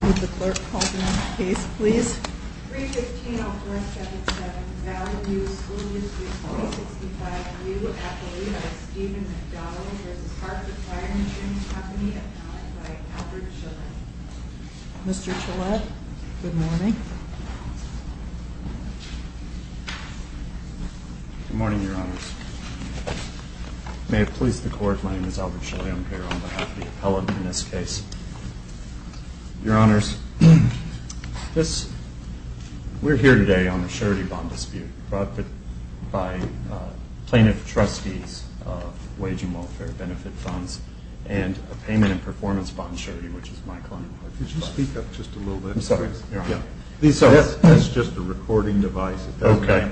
Would the clerk call the next case, please? 315-0477 Valley View School District 365-U, Appellee by Stephen McDonald v. Hartford Fire Insurance Company, Appellant by Albert Shillett. Mr. Shillett, good morning. Good morning, Your Honors. May it please the court, my name is Albert Shillett. I'm here on behalf of the appellant in this case. Your Honors, we're here today on a surety bond dispute brought by plaintiff trustees of Wage and Welfare Benefit Funds and a payment and performance bond surety, which is my client. Could you speak up just a little bit, please? I'm sorry, Your Honor. That's just a recording device. Okay,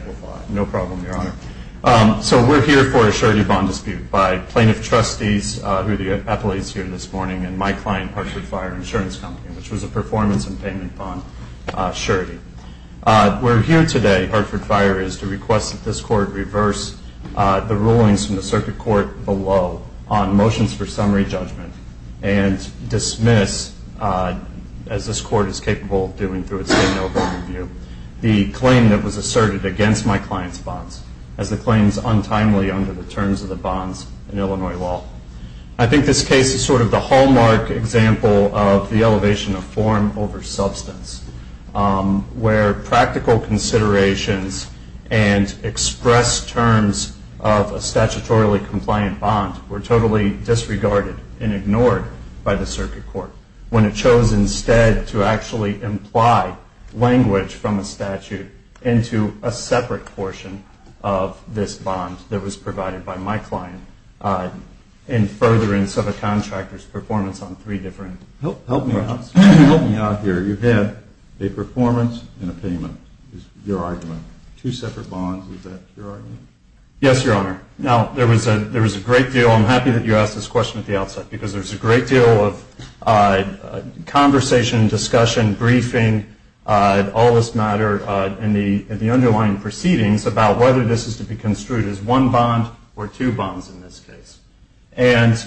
no problem, Your Honor. So we're here for a surety bond dispute by plaintiff trustees who are the appellees here this morning and my client, Hartford Fire Insurance Company, which was a performance and payment bond surety. We're here today, Hartford Fire, is to request that this court reverse the rulings from the circuit court below on motions for summary judgment and dismiss, as this court is capable of doing through its standover review, the claim that was asserted against my client's bonds as the claims untimely under the terms of the bonds in Illinois law. I think this case is sort of the hallmark example of the elevation of form over substance, where practical considerations and expressed terms of a statutorily compliant bond were totally disregarded and ignored by the circuit court, when it chose instead to actually imply language from a statute into a separate portion of this bond that was provided by my client in furtherance of a contractor's performance on three different grounds. Help me out here. You had a performance and a payment is your argument. Two separate bonds, is that your argument? Yes, Your Honor. Now, there was a great deal. I'm happy that you asked this question at the outset because there was a great deal of conversation, discussion, briefing, all this matter in the underlying proceedings about whether this is to be construed as one bond or two bonds in this case. And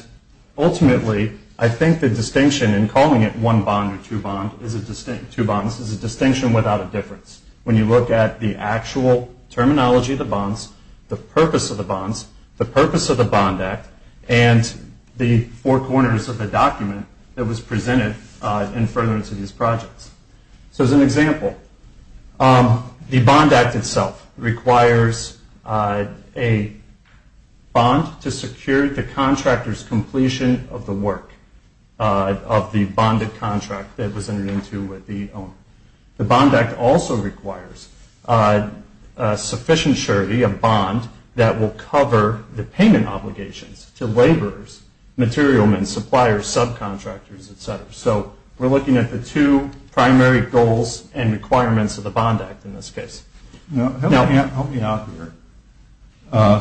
ultimately, I think the distinction in calling it one bond or two bonds is a distinction without a difference. When you look at the actual terminology of the bonds, the purpose of the bonds, the purpose of the Bond Act, and the four corners of the document that was presented in furtherance of these projects. So as an example, the Bond Act itself requires a bond to secure the contractor's completion of the work of the bonded contract that was entered into with the owner. The Bond Act also requires sufficient surety, a bond, that will cover the payment obligations to laborers, material men, suppliers, subcontractors, et cetera. So we're looking at the two primary goals and requirements of the Bond Act in this case. Help me out here.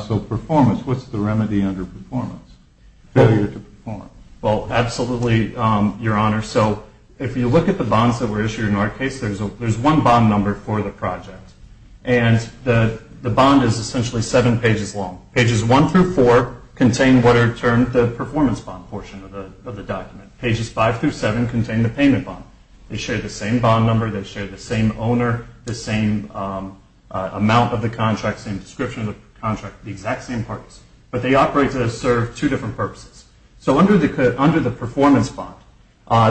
So performance, what's the remedy under performance? Failure to perform. Well, absolutely, Your Honor. So if you look at the bonds that were issued in our case, there's one bond number for the project. And the bond is essentially seven pages long. Pages one through four contain what are termed the performance bond portion of the document. Pages five through seven contain the payment bond. They share the same bond number. They share the same owner, the same amount of the contract, same description of the contract, the exact same purpose. But they operate to serve two different purposes. So under the performance bond,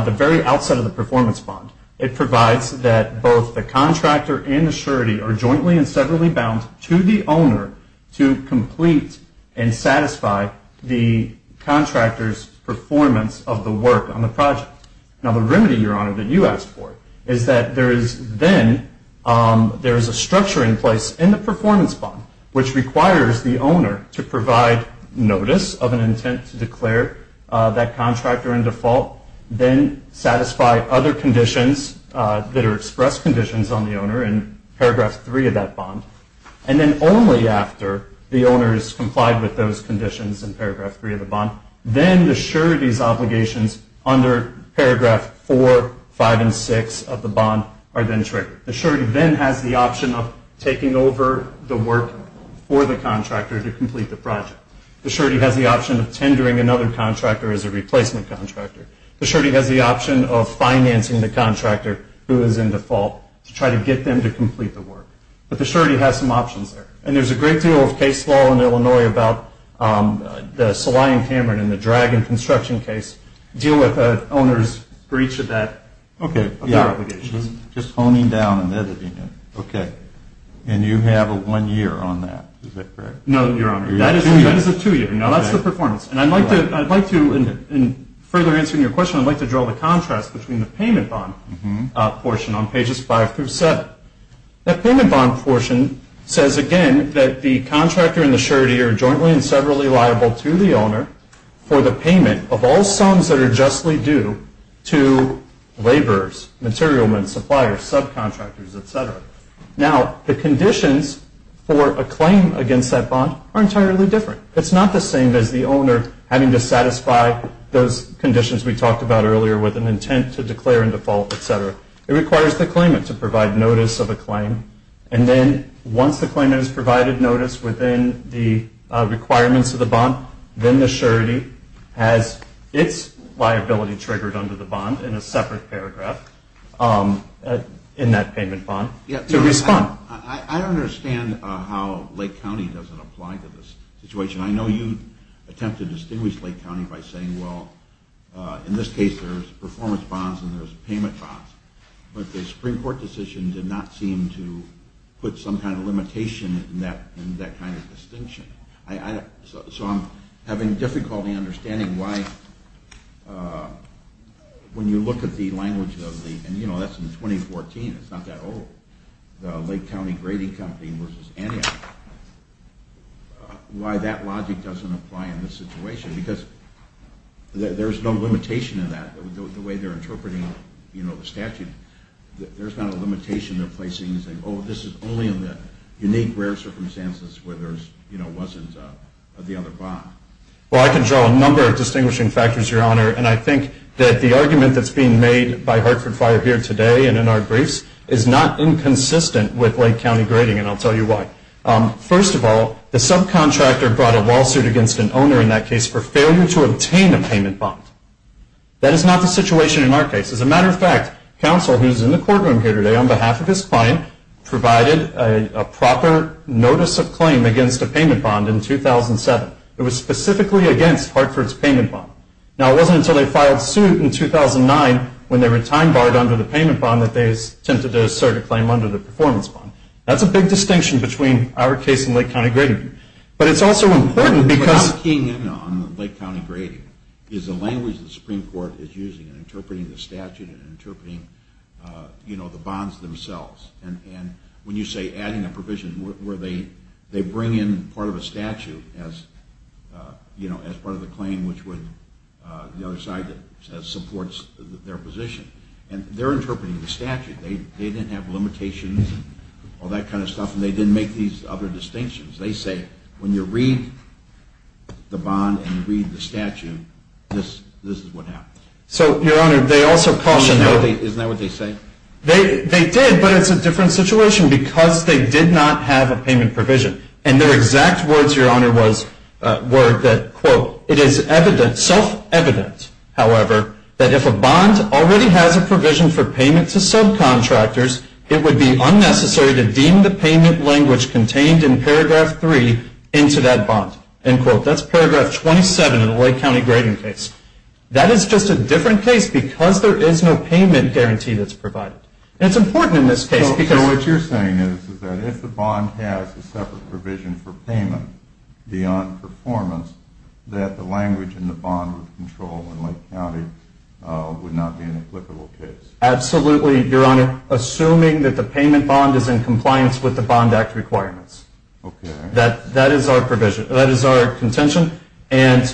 the very outset of the performance bond, it provides that both the contractor and the surety are jointly and severally bound to the owner to complete and satisfy the contractor's performance of the work on the project. Now the remedy, Your Honor, that you asked for is that there is then, there is a structure in place in the performance bond which requires the owner to provide notice of an intent to declare that contractor in default, or in paragraph three of that bond, and then only after the owner has complied with those conditions in paragraph three of the bond, then the surety's obligations under paragraph four, five, and six of the bond are then triggered. The surety then has the option of taking over the work for the contractor to complete the project. The surety has the option of tendering another contractor as a replacement contractor. The surety has the option of financing the contractor who is in default to try to get them to complete the work. But the surety has some options there. And there's a great deal of case law in Illinois about the Saline Cameron and the Dragon construction case deal with the owner's breach of that obligation. Okay. Just honing down and editing it. Okay. And you have a one year on that. Is that correct? No, Your Honor. That is a two year. Now that's the performance. And I'd like to, in further answering your question, I'd like to draw the contrast between the payment bond portion on pages five through seven. That payment bond portion says, again, that the contractor and the surety are jointly and severally liable to the owner for the payment of all sums that are justly due to laborers, material men, suppliers, subcontractors, et cetera. Now the conditions for a claim against that bond are entirely different. It's not the same as the owner having to satisfy those conditions we talked about earlier with an intent to declare in default, et cetera. It requires the claimant to provide notice of a claim. And then once the claimant has provided notice within the requirements of the bond, then the surety has its liability triggered under the bond in a separate paragraph in that payment bond to respond. I don't understand how Lake County doesn't apply to this situation. And I know you attempt to distinguish Lake County by saying, well, in this case there's performance bonds and there's payment bonds. But the Supreme Court decision did not seem to put some kind of limitation in that kind of distinction. So I'm having difficulty understanding why when you look at the language of the – and, you know, that's in 2014. It's not that old. The Lake County Grading Company versus Antioch. Why that logic doesn't apply in this situation because there's no limitation in that, the way they're interpreting, you know, the statute. There's not a limitation they're placing and saying, oh, this is only in the unique rare circumstances where there's, you know, wasn't the other bond. Well, I can draw a number of distinguishing factors, Your Honor. And I think that the argument that's being made by Hartford Fire here today and in our briefs is not inconsistent with Lake County grading, and I'll tell you why. First of all, the subcontractor brought a lawsuit against an owner in that case for failure to obtain a payment bond. That is not the situation in our case. As a matter of fact, counsel who's in the courtroom here today on behalf of his client provided a proper notice of claim against a payment bond in 2007. It was specifically against Hartford's payment bond. Now, it wasn't until they filed suit in 2009, when they were time-barred under the payment bond, that they attempted to assert a claim under the performance bond. That's a big distinction between our case and Lake County grading. But it's also important because- What I'm keying in on Lake County grading is the language the Supreme Court is using in interpreting the statute and interpreting, you know, the bonds themselves. And when you say adding a provision where they bring in part of a statute as, you know, as part of the claim which would, the other side that supports their position. And they're interpreting the statute. They didn't have limitations and all that kind of stuff, and they didn't make these other distinctions. They say when you read the bond and you read the statute, this is what happens. So, Your Honor, they also cautioned- Isn't that what they say? They did, but it's a different situation because they did not have a payment provision. And their exact words, Your Honor, were that, quote, it is self-evident, however, that if a bond already has a provision for payment to subcontractors, it would be unnecessary to deem the payment language contained in paragraph three into that bond, end quote. That's paragraph 27 in the Lake County grading case. That is just a different case because there is no payment guarantee that's provided. And it's important in this case because- So what you're saying is that if the bond has a separate provision for payment, that the language in the bond would control when Lake County would not be an applicable case. Absolutely, Your Honor, assuming that the payment bond is in compliance with the Bond Act requirements. Okay. That is our provision. That is our contention. And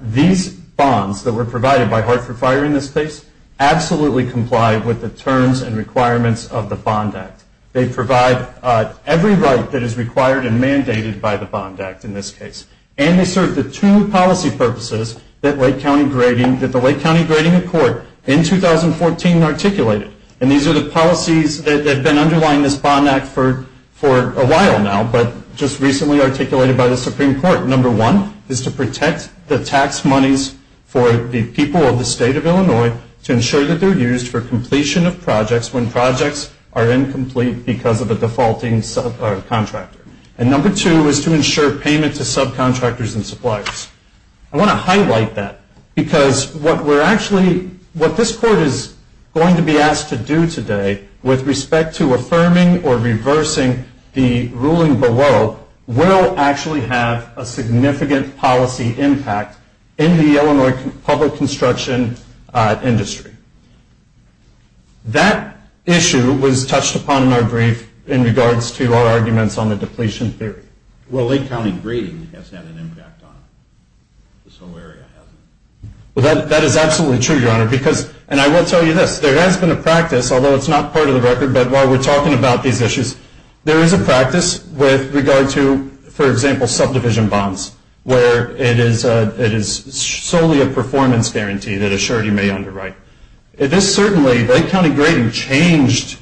these bonds that were provided by Hartford Fire in this case absolutely comply with the terms and requirements of the Bond Act. They provide every right that is required and mandated by the Bond Act in this case. And they serve the two policy purposes that the Lake County grading accord in 2014 articulated. And these are the policies that have been underlying this Bond Act for a while now, but just recently articulated by the Supreme Court. Number one is to protect the tax monies for the people of the State of Illinois to ensure that they're used for completion of projects when projects are incomplete because of a defaulting subcontractor. And number two is to ensure payment to subcontractors and suppliers. I want to highlight that because what we're actually, what this Court is going to be asked to do today with respect to affirming or reversing the ruling below will actually have a significant policy impact in the Illinois public construction industry. That issue was touched upon in our brief in regards to our arguments on the completion theory. Well, Lake County grading has had an impact on it. This whole area has. Well, that is absolutely true, Your Honor. Because, and I will tell you this, there has been a practice, although it's not part of the record, but while we're talking about these issues, there is a practice with regard to, for example, subdivision bonds, where it is solely a performance guarantee that a surety may underwrite. It is certainly, Lake County grading changed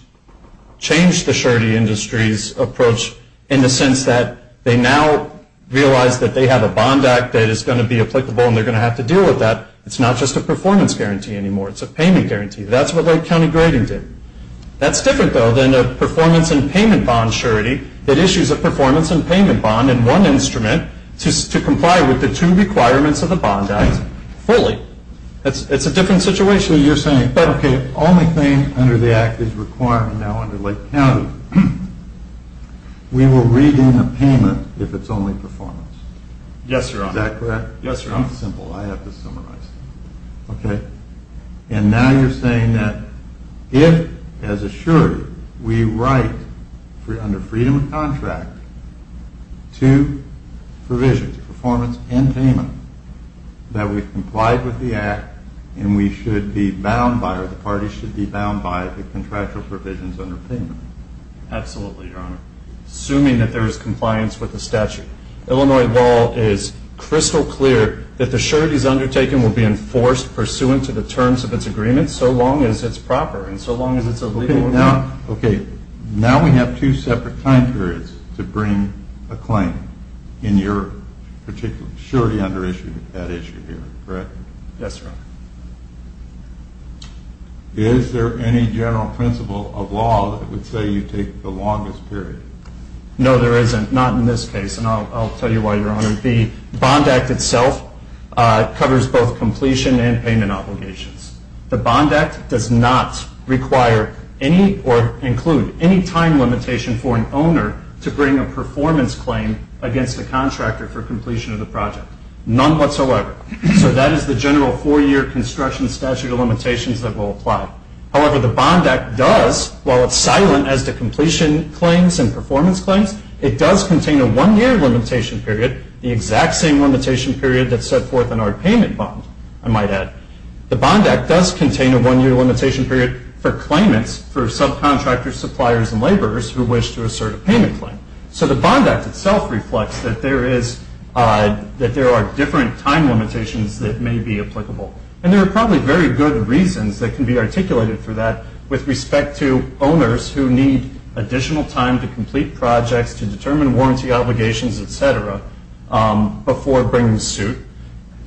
the surety industry's approach in the sense that they now realize that they have a bond act that is going to be applicable and they're going to have to deal with that. It's not just a performance guarantee anymore. It's a payment guarantee. That's what Lake County grading did. That's different, though, than a performance and payment bond surety that issues a performance and payment bond in one instrument to comply with the two requirements of the bond act fully. It's a different situation. So you're saying, okay, only thing under the act is requirement now under Lake County. We will redeem a payment if it's only performance. Yes, Your Honor. Is that correct? Yes, Your Honor. Simple. I have to summarize. Okay. And now you're saying that if, as a surety, we write under freedom of contract to provisions, performance and payment, that we've complied with the act and we should be bound by or the party should be bound by the contractual provisions under payment. Absolutely, Your Honor. Assuming that there is compliance with the statute. Illinois law is crystal clear that the surety's undertaken will be enforced pursuant to the terms of its agreement so long as it's proper and so long as it's a legal agreement. Okay. Now we have two separate time periods to bring a claim in your particular surety under that issue here, correct? Yes, Your Honor. Is there any general principle of law that would say you take the longest period? No, there isn't. Not in this case. And I'll tell you why, Your Honor. The Bond Act itself covers both completion and payment obligations. The Bond Act does not require any or include any time limitation for an owner to bring a performance claim against the contractor for completion of the project. None whatsoever. So that is the general four-year construction statute of limitations that will apply. However, the Bond Act does, while it's silent as to completion claims and performance claims, it does contain a one-year limitation period, the exact same limitation period that's set forth in our payment bond, I might add. The Bond Act does contain a one-year limitation period for claimants, for subcontractors, suppliers, and laborers who wish to assert a payment claim. So the Bond Act itself reflects that there is, that there are different time limitations that may be applicable. And there are probably very good reasons that can be articulated for that with respect to owners who need additional time to complete projects, to determine warranty obligations, et cetera, before bringing suit,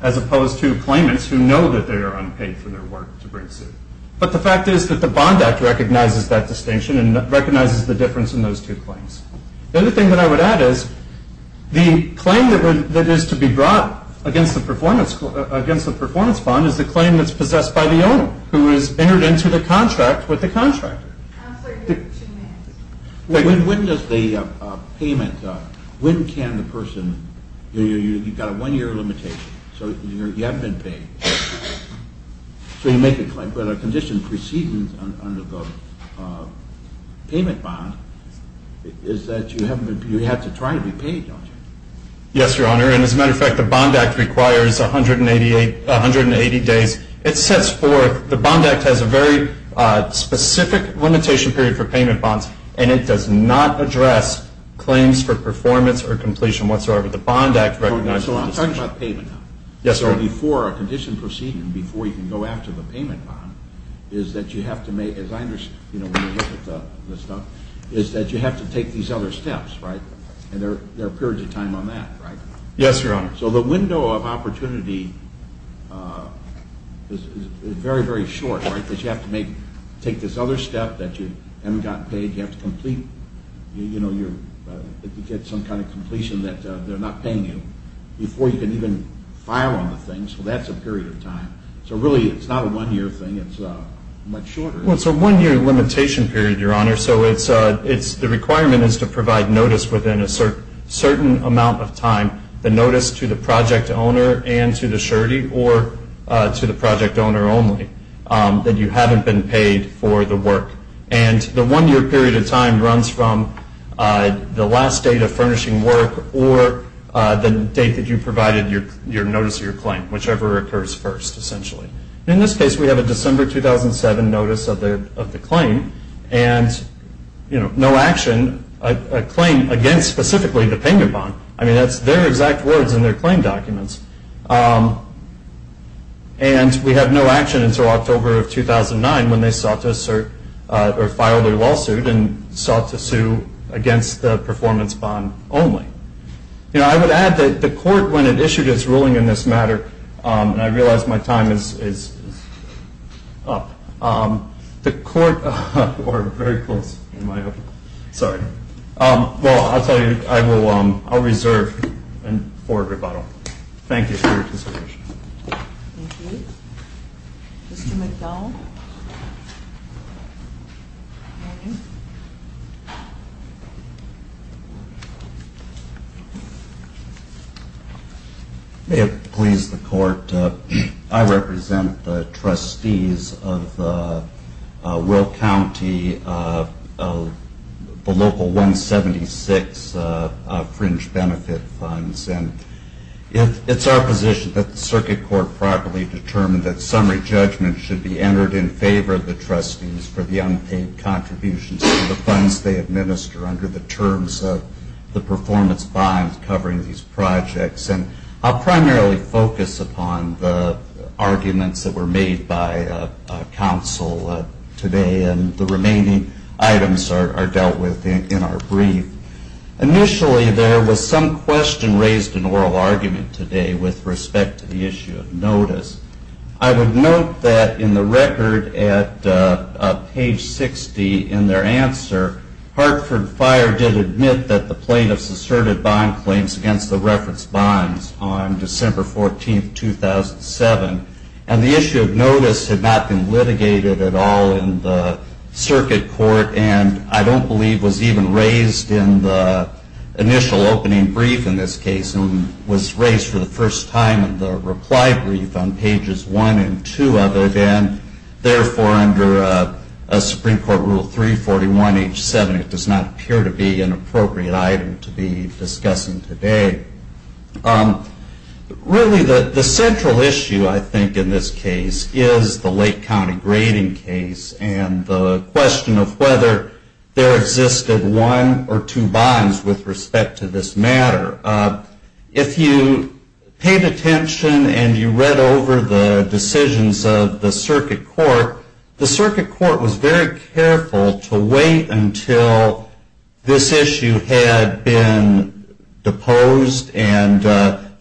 as opposed to claimants who know that they are unpaid for their work to bring suit. But the fact is that the Bond Act recognizes that distinction and recognizes the difference in those two claims. The other thing that I would add is, the claim that is to be brought against the performance bond is the claim that's possessed by the owner, who has entered into the contract with the contractor. When does the payment, when can the person, you've got a one-year limitation, so you haven't been paid, so you make a claim. But a condition preceding under the payment bond is that you have to try to be paid, don't you? Yes, Your Honor. And as a matter of fact, the Bond Act requires 180 days. It sets forth, the Bond Act has a very specific limitation period for payment bonds, and it does not address claims for performance or completion whatsoever. The Bond Act recognizes the distinction. So I'm talking about payment now. Yes, sir. So before a condition proceeding, before you can go after the payment bond, is that you have to make, as I understand, when you look at the stuff, is that you have to take these other steps, right? And there are periods of time on that, right? Yes, Your Honor. So the window of opportunity is very, very short, right? Because you have to take this other step that you haven't gotten paid, you have to complete, you know, you get some kind of completion that they're not paying you before you can even file on the thing. So that's a period of time. So really, it's not a one-year thing. It's much shorter. Well, it's a one-year limitation period, Your Honor. So the requirement is to provide notice within a certain amount of time, the notice to the project owner and to the surety or to the project owner only, that you haven't been paid for the work. And the one-year period of time runs from the last date of furnishing work or the date that you provided your notice of your claim, whichever occurs first, essentially. In this case, we have a December 2007 notice of the claim, and, you know, no action, a claim against specifically the payment bond. I mean, that's their exact words in their claim documents. And we have no action until October of 2009 when they sought to assert You know, I would add that the court, when it issued its ruling in this matter, and I realize my time is up, the court or very close, am I up? Sorry. Well, I'll tell you, I will reserve for rebuttal. Thank you for your consideration. Thank you. Thank you. Mr. McDowell. May it please the court, I represent the trustees of the Will County, the local 176 fringe benefit funds. And it's our position that the circuit court properly determined that summary judgment should be entered in favor of the trustees for the unpaid contributions to the funds they administer under the terms of the performance bonds covering these projects. And I'll primarily focus upon the arguments that were made by counsel today, and the remaining items are dealt with in our brief. Initially, there was some question raised in oral argument today with respect to the issue of notice. I would note that in the record at page 60 in their answer, Hartford Fire did admit that the plaintiffs asserted bond claims against the reference bonds on December 14, 2007. And the issue of notice had not been litigated at all in the circuit court and I don't believe was even raised in the initial opening brief in this case, and was raised for the first time in the reply brief on pages 1 and 2 of it. And therefore, under Supreme Court Rule 341H7, it does not appear to be an appropriate item to be discussing today. Really, the central issue, I think, in this case is the Lake County grading case and the question of whether there existed one or two bonds with respect to this matter. If you paid attention and you read over the decisions of the circuit court, the circuit court was very careful to wait until this issue had been deposed and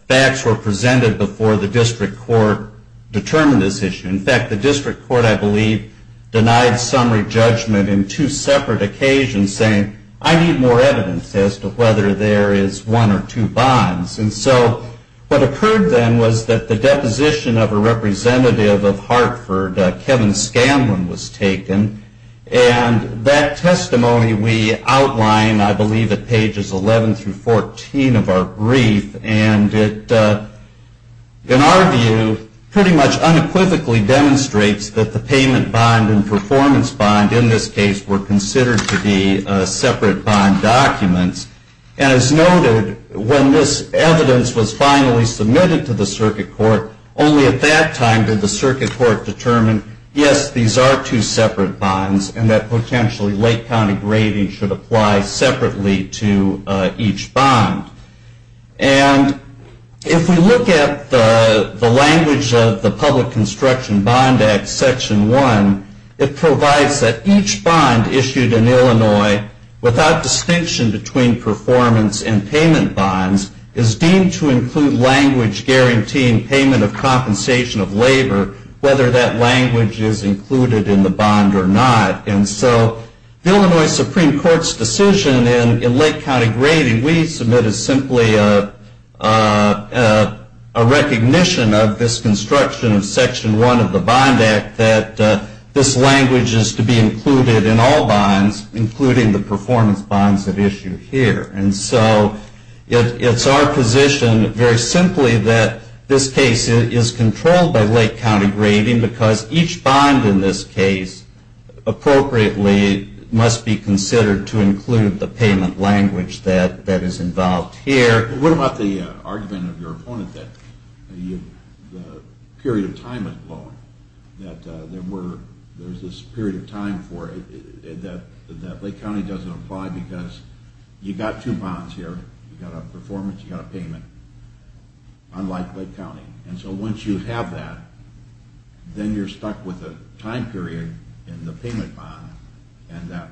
facts were presented before the district court determined this issue. In fact, the district court, I believe, denied summary judgment in two separate occasions saying, I need more evidence as to whether there is one or two bonds. And so what occurred then was that the deposition of a representative of Hartford, Kevin Scanlon, was taken. And that testimony we outline, I believe, at pages 11 through 14 of our brief. And it, in our view, pretty much unequivocally demonstrates that the payment bond and performance bond in this case were considered to be separate bond documents. And as noted, when this evidence was finally submitted to the circuit court, only at that time did the circuit court determine, yes, these are two separate bonds and that potentially Lake County grading should apply separately to each bond. And if we look at the language of the Public Construction Bond Act Section 1, it provides that each bond issued in Illinois, without distinction between performance and payment bonds, is deemed to include language guaranteeing payment of compensation of labor, whether that language is included in the bond or not. And so the Illinois Supreme Court's decision in Lake County grading we submit is simply a recognition of this construction of Section 1 of the Bond Act that this language is to be included in all bonds, including the performance bonds at issue here. And so it's our position, very simply, that this case is controlled by Lake County grading because each bond in this case, appropriately, must be considered to include the payment language that is involved here. What about the argument of your opponent that the period of time is long, that there's this period of time for it that Lake County doesn't apply because you've got two bonds here, you've got a performance, you've got a payment, unlike Lake County. And so once you have that, then you're stuck with a time period in the payment bond and that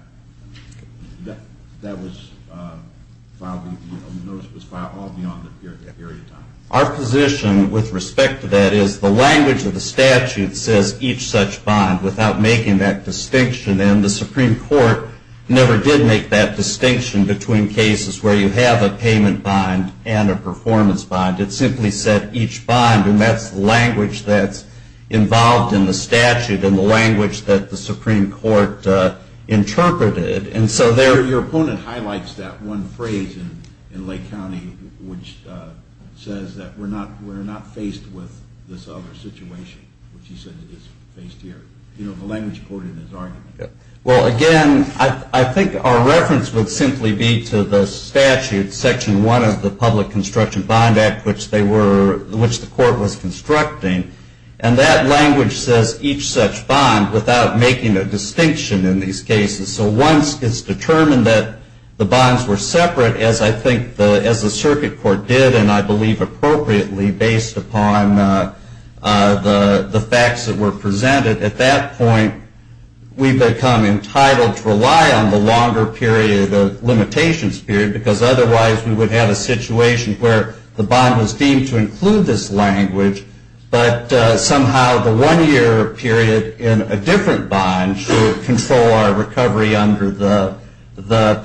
notice was filed all beyond that period of time. Our position with respect to that is the language of the statute says each such bond without making that distinction, and the Supreme Court never did make that distinction between cases where you have a payment bond and a performance bond. It simply said each bond, and that's the language that's involved in the statute and the language that the Supreme Court interpreted. Your opponent highlights that one phrase in Lake County, which says that we're not faced with this other situation, which he says it is faced here. You know, the language quoted in his argument. Well, again, I think our reference would simply be to the statute, Section 1 of the Public Construction Bond Act, which the court was constructing, and that language says each such bond without making a distinction in these cases. So once it's determined that the bonds were separate, as I think the Circuit Court did, and I believe appropriately based upon the facts that were presented, at that point we become entitled to rely on the longer period of limitations period because otherwise we would have a situation where the bond was deemed to include this language, but somehow the one-year period in a different bond should control our recovery under the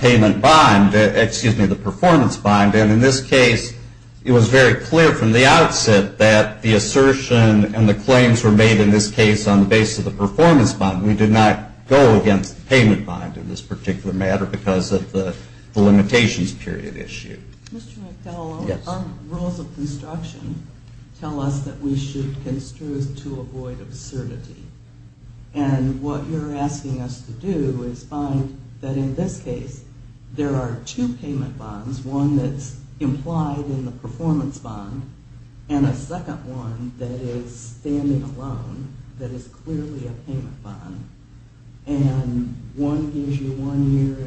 payment bond, excuse me, the performance bond. And in this case, it was very clear from the outset that the assertion and the claims were made in this case on the basis of the performance bond. We did not go against the payment bond in this particular matter because of the limitations period issue. Mr. McDowell, our rules of construction tell us that we should construe to avoid absurdity. And what you're asking us to do is find that in this case there are two payment bonds, one that's implied in the performance bond and a second one that is standing alone that is clearly a payment bond. And one gives you one year,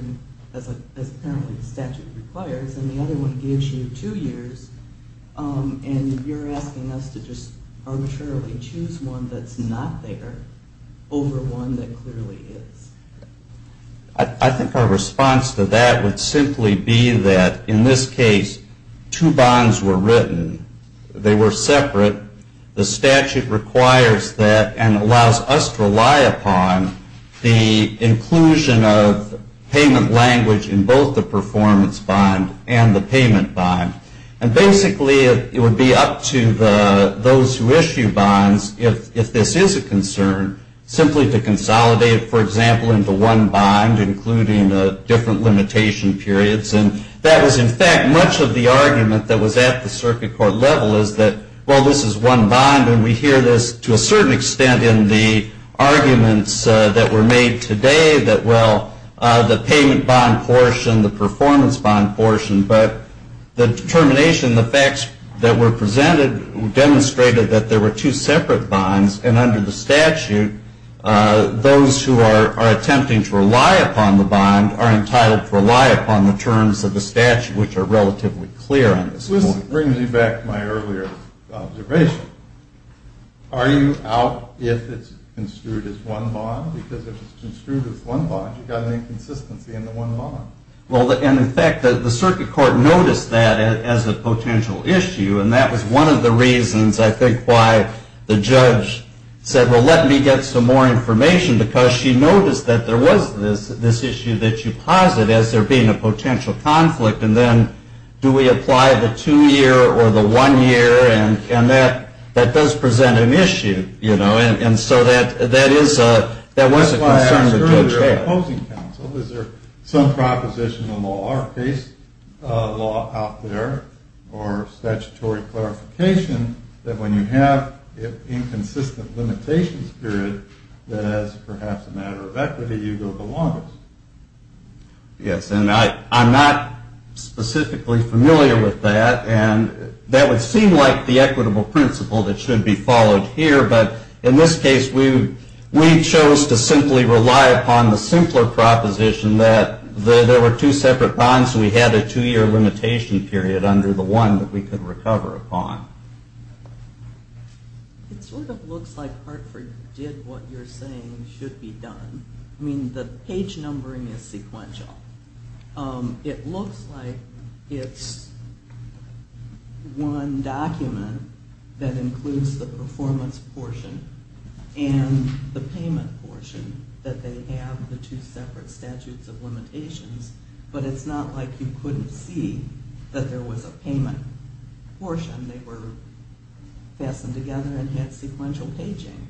as apparently the statute requires, and the other one gives you two years. And you're asking us to just arbitrarily choose one that's not there over one that clearly is. I think our response to that would simply be that in this case two bonds were written. They were separate. The statute requires that and allows us to rely upon the inclusion of payment language in both the performance bond and the payment bond. And basically it would be up to those who issue bonds, if this is a concern, simply to consolidate, for example, into one bond, including different limitation periods. And that was, in fact, much of the argument that was at the circuit court level is that, well, this is one bond and we hear this to a certain extent in the arguments that were made today that, well, the payment bond portion, the performance bond portion, but the determination, the facts that were presented demonstrated that there were two separate bonds. And under the statute, those who are attempting to rely upon the bond are entitled to rely upon the terms of the statute, which are relatively clear on this point. This brings me back to my earlier observation. Are you out if it's construed as one bond? Because if it's construed as one bond, you've got an inconsistency in the one bond. Well, and, in fact, the circuit court noticed that as a potential issue, and that was one of the reasons, I think, why the judge said, well, let me get some more information, because she noticed that there was this issue that you posit as there being a potential conflict, and then do we apply the two-year or the one-year, and that does present an issue, you know. And so that was a concern the judge had. Is there some propositional law or case law out there or statutory clarification that when you have an inconsistent limitations period, that as perhaps a matter of equity, you go the longest? Yes, and I'm not specifically familiar with that, and that would seem like the equitable principle that should be followed here, but in this case, we chose to simply rely upon the simpler proposition that there were two separate bonds, so we had a two-year limitation period under the one that we could recover a bond. It sort of looks like Hartford did what you're saying should be done. I mean, the page numbering is sequential. It looks like it's one document that includes the performance portion and the payment portion, that they have the two separate statutes of limitations, but it's not like you couldn't see that there was a payment portion. They were fastened together and had sequential paging.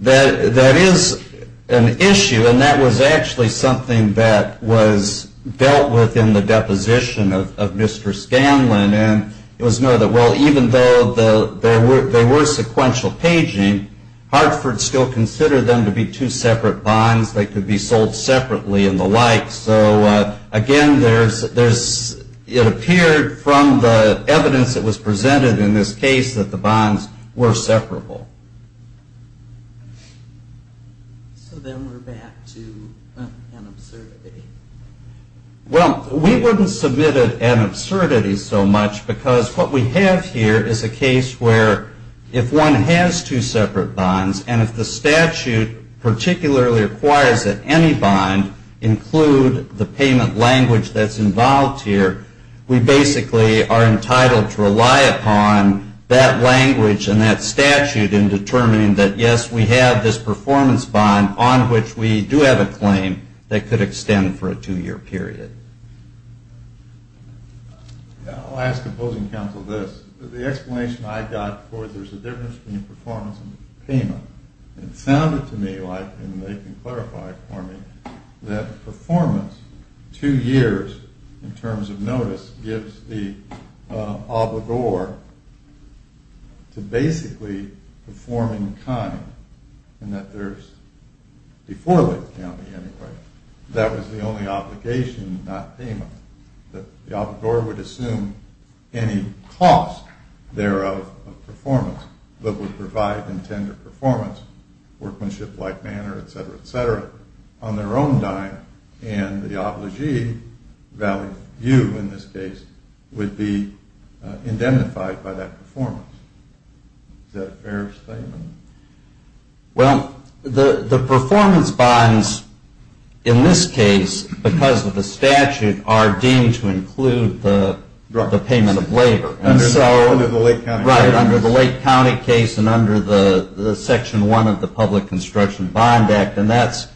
That is an issue, and that was actually something that was dealt with in the deposition of Mr. Scanlon, and it was noted, well, even though there were sequential paging, Hartford still considered them to be two separate bonds that could be sold separately and the like, so again, it appeared from the evidence that was presented in this case that the bonds were separable. So then we're back to an absurdity. Well, we wouldn't submit an absurdity so much, because what we have here is a case where if one has two separate bonds, and if the statute particularly requires that any bond include the payment language that's involved here, we basically are entitled to rely upon that language and that statute in determining that, yes, we have this performance bond on which we do have a claim that could extend for a two-year period. I'll ask opposing counsel this. The explanation I got for there's a difference between performance and payment, it sounded to me like, and they can clarify for me, that performance two years in terms of notice gives the obligor to basically perform in kind, and that there's, before Lake County anyway, that was the only obligation, not payment. The obligor would assume any cost thereof of performance, but would provide intended performance, workmanship-like manner, etc., etc. on their own dime, and the obligee, value of view in this case, would be indemnified by that performance. Is that a fair statement? Well, the performance bonds in this case, because of the statute, are deemed to include the payment of labor. Under the Lake County case. Right, under the Lake County case and under the Section 1 of the Public Construction Bond Act, and that's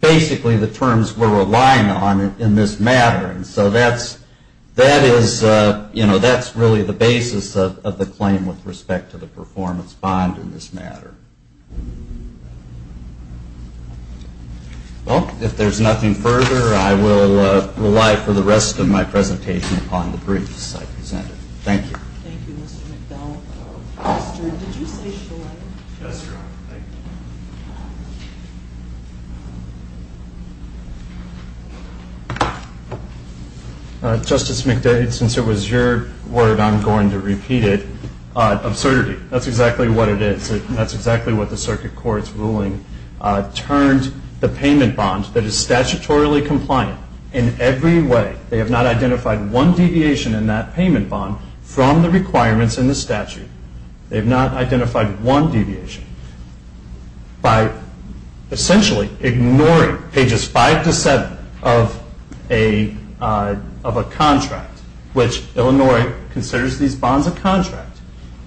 basically the terms we're relying on in this matter, and so that's really the basis of the claim with respect to the performance bond in this matter. Well, if there's nothing further, I will rely for the rest of my presentation upon the briefs I presented. Thank you. Thank you, Mr. McDonald. Did you say Shor? Yes, Your Honor. Justice McDade, since it was your word, I'm going to repeat it. Absurdity. That's exactly what it is. That's exactly what the circuit court's ruling turned the payment bond that is statutorily compliant in every way. They have not identified one deviation in that payment bond from the requirements in the statute. They have not identified one deviation. By essentially ignoring pages 5 to 7 of a contract, which Illinois considers these bonds a contract,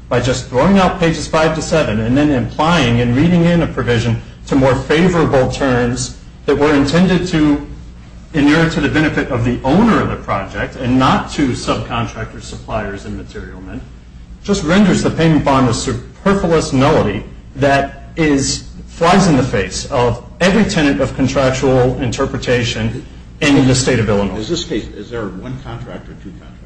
by just throwing out pages 5 to 7 and then implying and reading in a provision to more favorable terms that were intended to inure to the benefit of the owner of the project and not to subcontractors, suppliers, and material men, just renders the payment bond a superfluous nullity that flies in the face of every tenant of contractual interpretation in the state of Illinois. In this case, is there one contract or two contracts?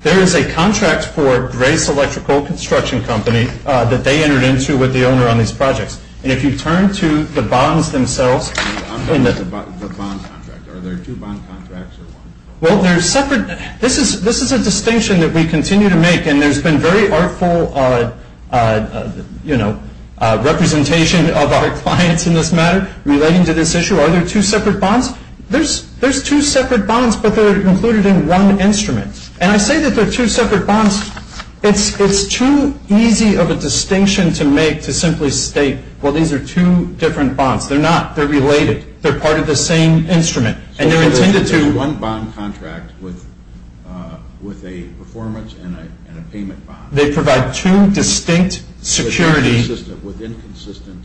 There is a contract for Grace Electrical Construction Company that they entered into with the owner on these projects. And if you turn to the bonds themselves. I'm talking about the bond contract. Are there two bond contracts or one? Well, they're separate. This is a distinction that we continue to make. And there's been very artful representation of our clients in this matter relating to this issue. Are there two separate bonds? There's two separate bonds, but they're included in one instrument. And I say that they're two separate bonds. It's too easy of a distinction to make to simply state, well, these are two different bonds. They're not. They're related. They're part of the same instrument. They're one bond contract with a performance and a payment bond. They provide two distinct security. With inconsistent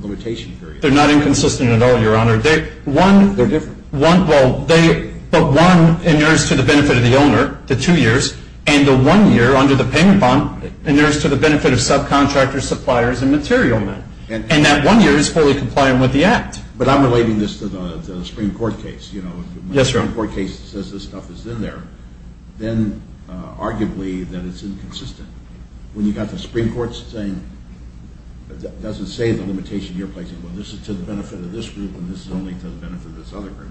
limitation period. They're not inconsistent at all, Your Honor. They're different. Well, the one inures to the benefit of the owner, the two years. And the one year under the payment bond inures to the benefit of subcontractors, suppliers, and material men. And that one year is fully compliant with the Act. But I'm relating this to the Supreme Court case. Yes, Your Honor. When the Supreme Court case says this stuff is in there, then arguably that it's inconsistent. When you've got the Supreme Court saying it doesn't say the limitation you're placing, well, this is to the benefit of this group and this is only to the benefit of this other group.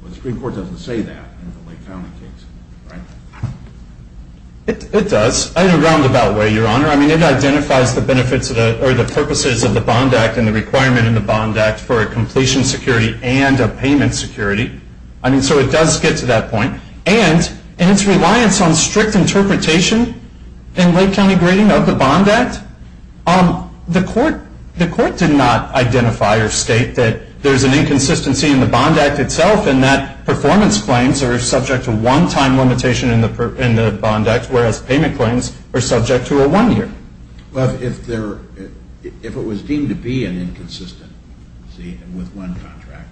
Well, the Supreme Court doesn't say that in the Lake County case, right? It does in a roundabout way, Your Honor. I mean, it identifies the benefits or the purposes of the Bond Act and the requirement in the Bond Act for a completion security and a payment security. I mean, so it does get to that point. And in its reliance on strict interpretation in Lake County grading of the Bond Act, the court did not identify or state that there's an inconsistency in the Bond Act itself in that performance claims are subject to one time limitation in the Bond Act, whereas payment claims are subject to a one year. Well, if it was deemed to be an inconsistency with one contract,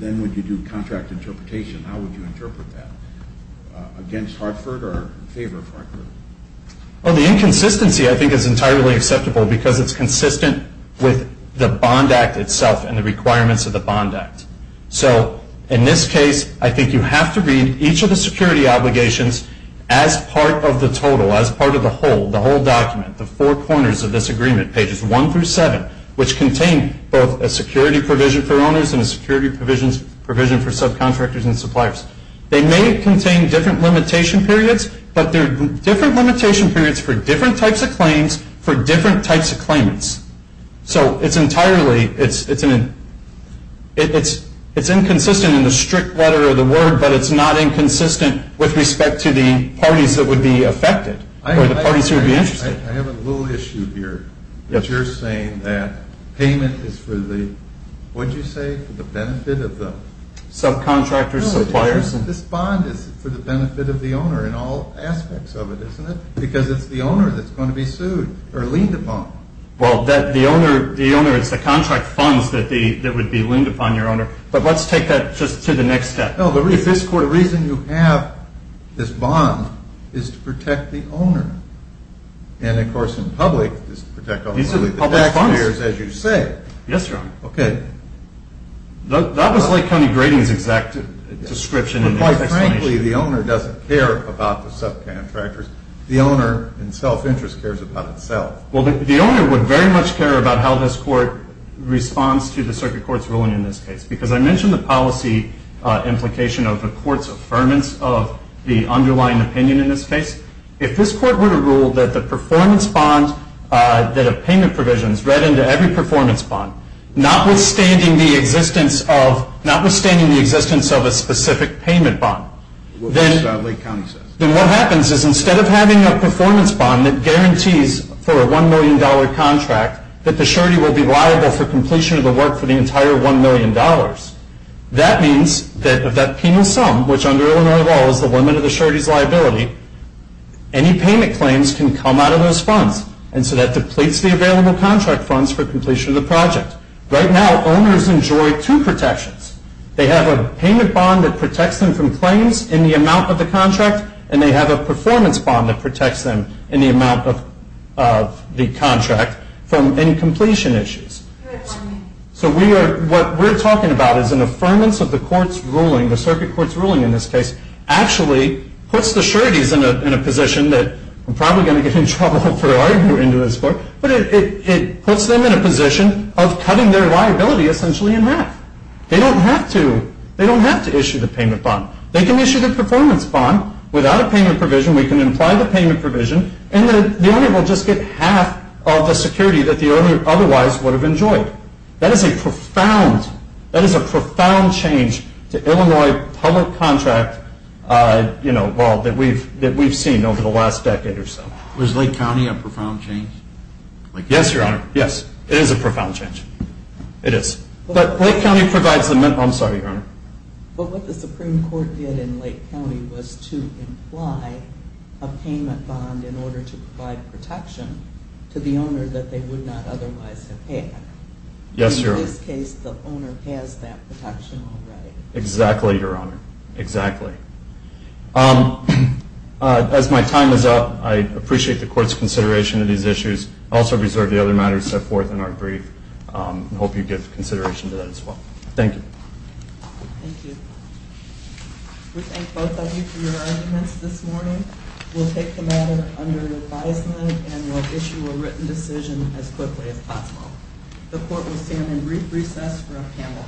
then would you do contract interpretation? How would you interpret that? Against Hartford or in favor of Hartford? Well, the inconsistency I think is entirely acceptable because it's consistent with the Bond Act itself and the requirements of the Bond Act. So in this case, I think you have to read each of the security obligations as part of the total, as part of the whole, the whole document, the four corners of this agreement, pages one through seven, which contain both a security provision for owners and a security provision for subcontractors and suppliers. They may contain different limitation periods, but they're different limitation periods for different types of claims, for different types of claimants. So it's entirely, it's inconsistent in the strict letter of the word, but it's not inconsistent with respect to the parties that would be affected or the parties who would be interested. I have a little issue here. Yes. That you're saying that payment is for the, what did you say? For the benefit of the? Subcontractors, suppliers. This bond is for the benefit of the owner in all aspects of it, isn't it? Because it's the owner that's going to be sued or leaned upon. Well, the owner, it's the contract funds that would be leaned upon your owner. But let's take that just to the next step. No, the reason you have this bond is to protect the owner. And, of course, in public it's to protect the taxpayers, as you say. Yes, Your Honor. Okay. That was Lake County Grading's exact description. Quite frankly, the owner doesn't care about the subcontractors. The owner, in self-interest, cares about itself. Well, the owner would very much care about how this court responds to the circuit court's ruling in this case. Because I mentioned the policy implication of the court's affirmance of the underlying opinion in this case. If this court were to rule that the performance bond, that a payment provision is read into every performance bond, notwithstanding the existence of a specific payment bond, then what happens is instead of having a performance bond that guarantees for a $1 million contract that the surety will be liable for completion of the work for the entire $1 million, that means that if that penal sum, which under Illinois law is the limit of the surety's liability, any payment claims can come out of those funds. And so that depletes the available contract funds for completion of the project. Right now, owners enjoy two protections. They have a payment bond that protects them from claims in the amount of the contract, and they have a performance bond that protects them in the amount of the contract from any completion issues. So what we're talking about is an affirmance of the court's ruling, the circuit court's ruling in this case, actually puts the sureties in a position that I'm probably going to get in trouble for arguing into this court, but it puts them in a position of cutting their liability essentially in half. They don't have to. They don't have to issue the payment bond. They can issue the performance bond without a payment provision. We can imply the payment provision, and the owner will just get half of the security that the owner otherwise would have enjoyed. That is a profound change to Illinois public contract law that we've seen over the last decade or so. Was Lake County a profound change? Yes, Your Honor. Yes, it is a profound change. It is. But Lake County provides the minimum. I'm sorry, Your Honor. But what the Supreme Court did in Lake County was to imply a payment bond in order to provide protection to the owner that they would not otherwise have had. Yes, Your Honor. In this case, the owner has that protection already. Exactly, Your Honor. Exactly. As my time is up, I appreciate the Court's consideration of these issues. I also reserve the other matters set forth in our brief and hope you give consideration to that as well. Thank you. Thank you. We thank both of you for your arguments this morning. We'll take the matter under advisement and we'll issue a written decision as quickly as possible. The Court will stand in brief recess for a panel.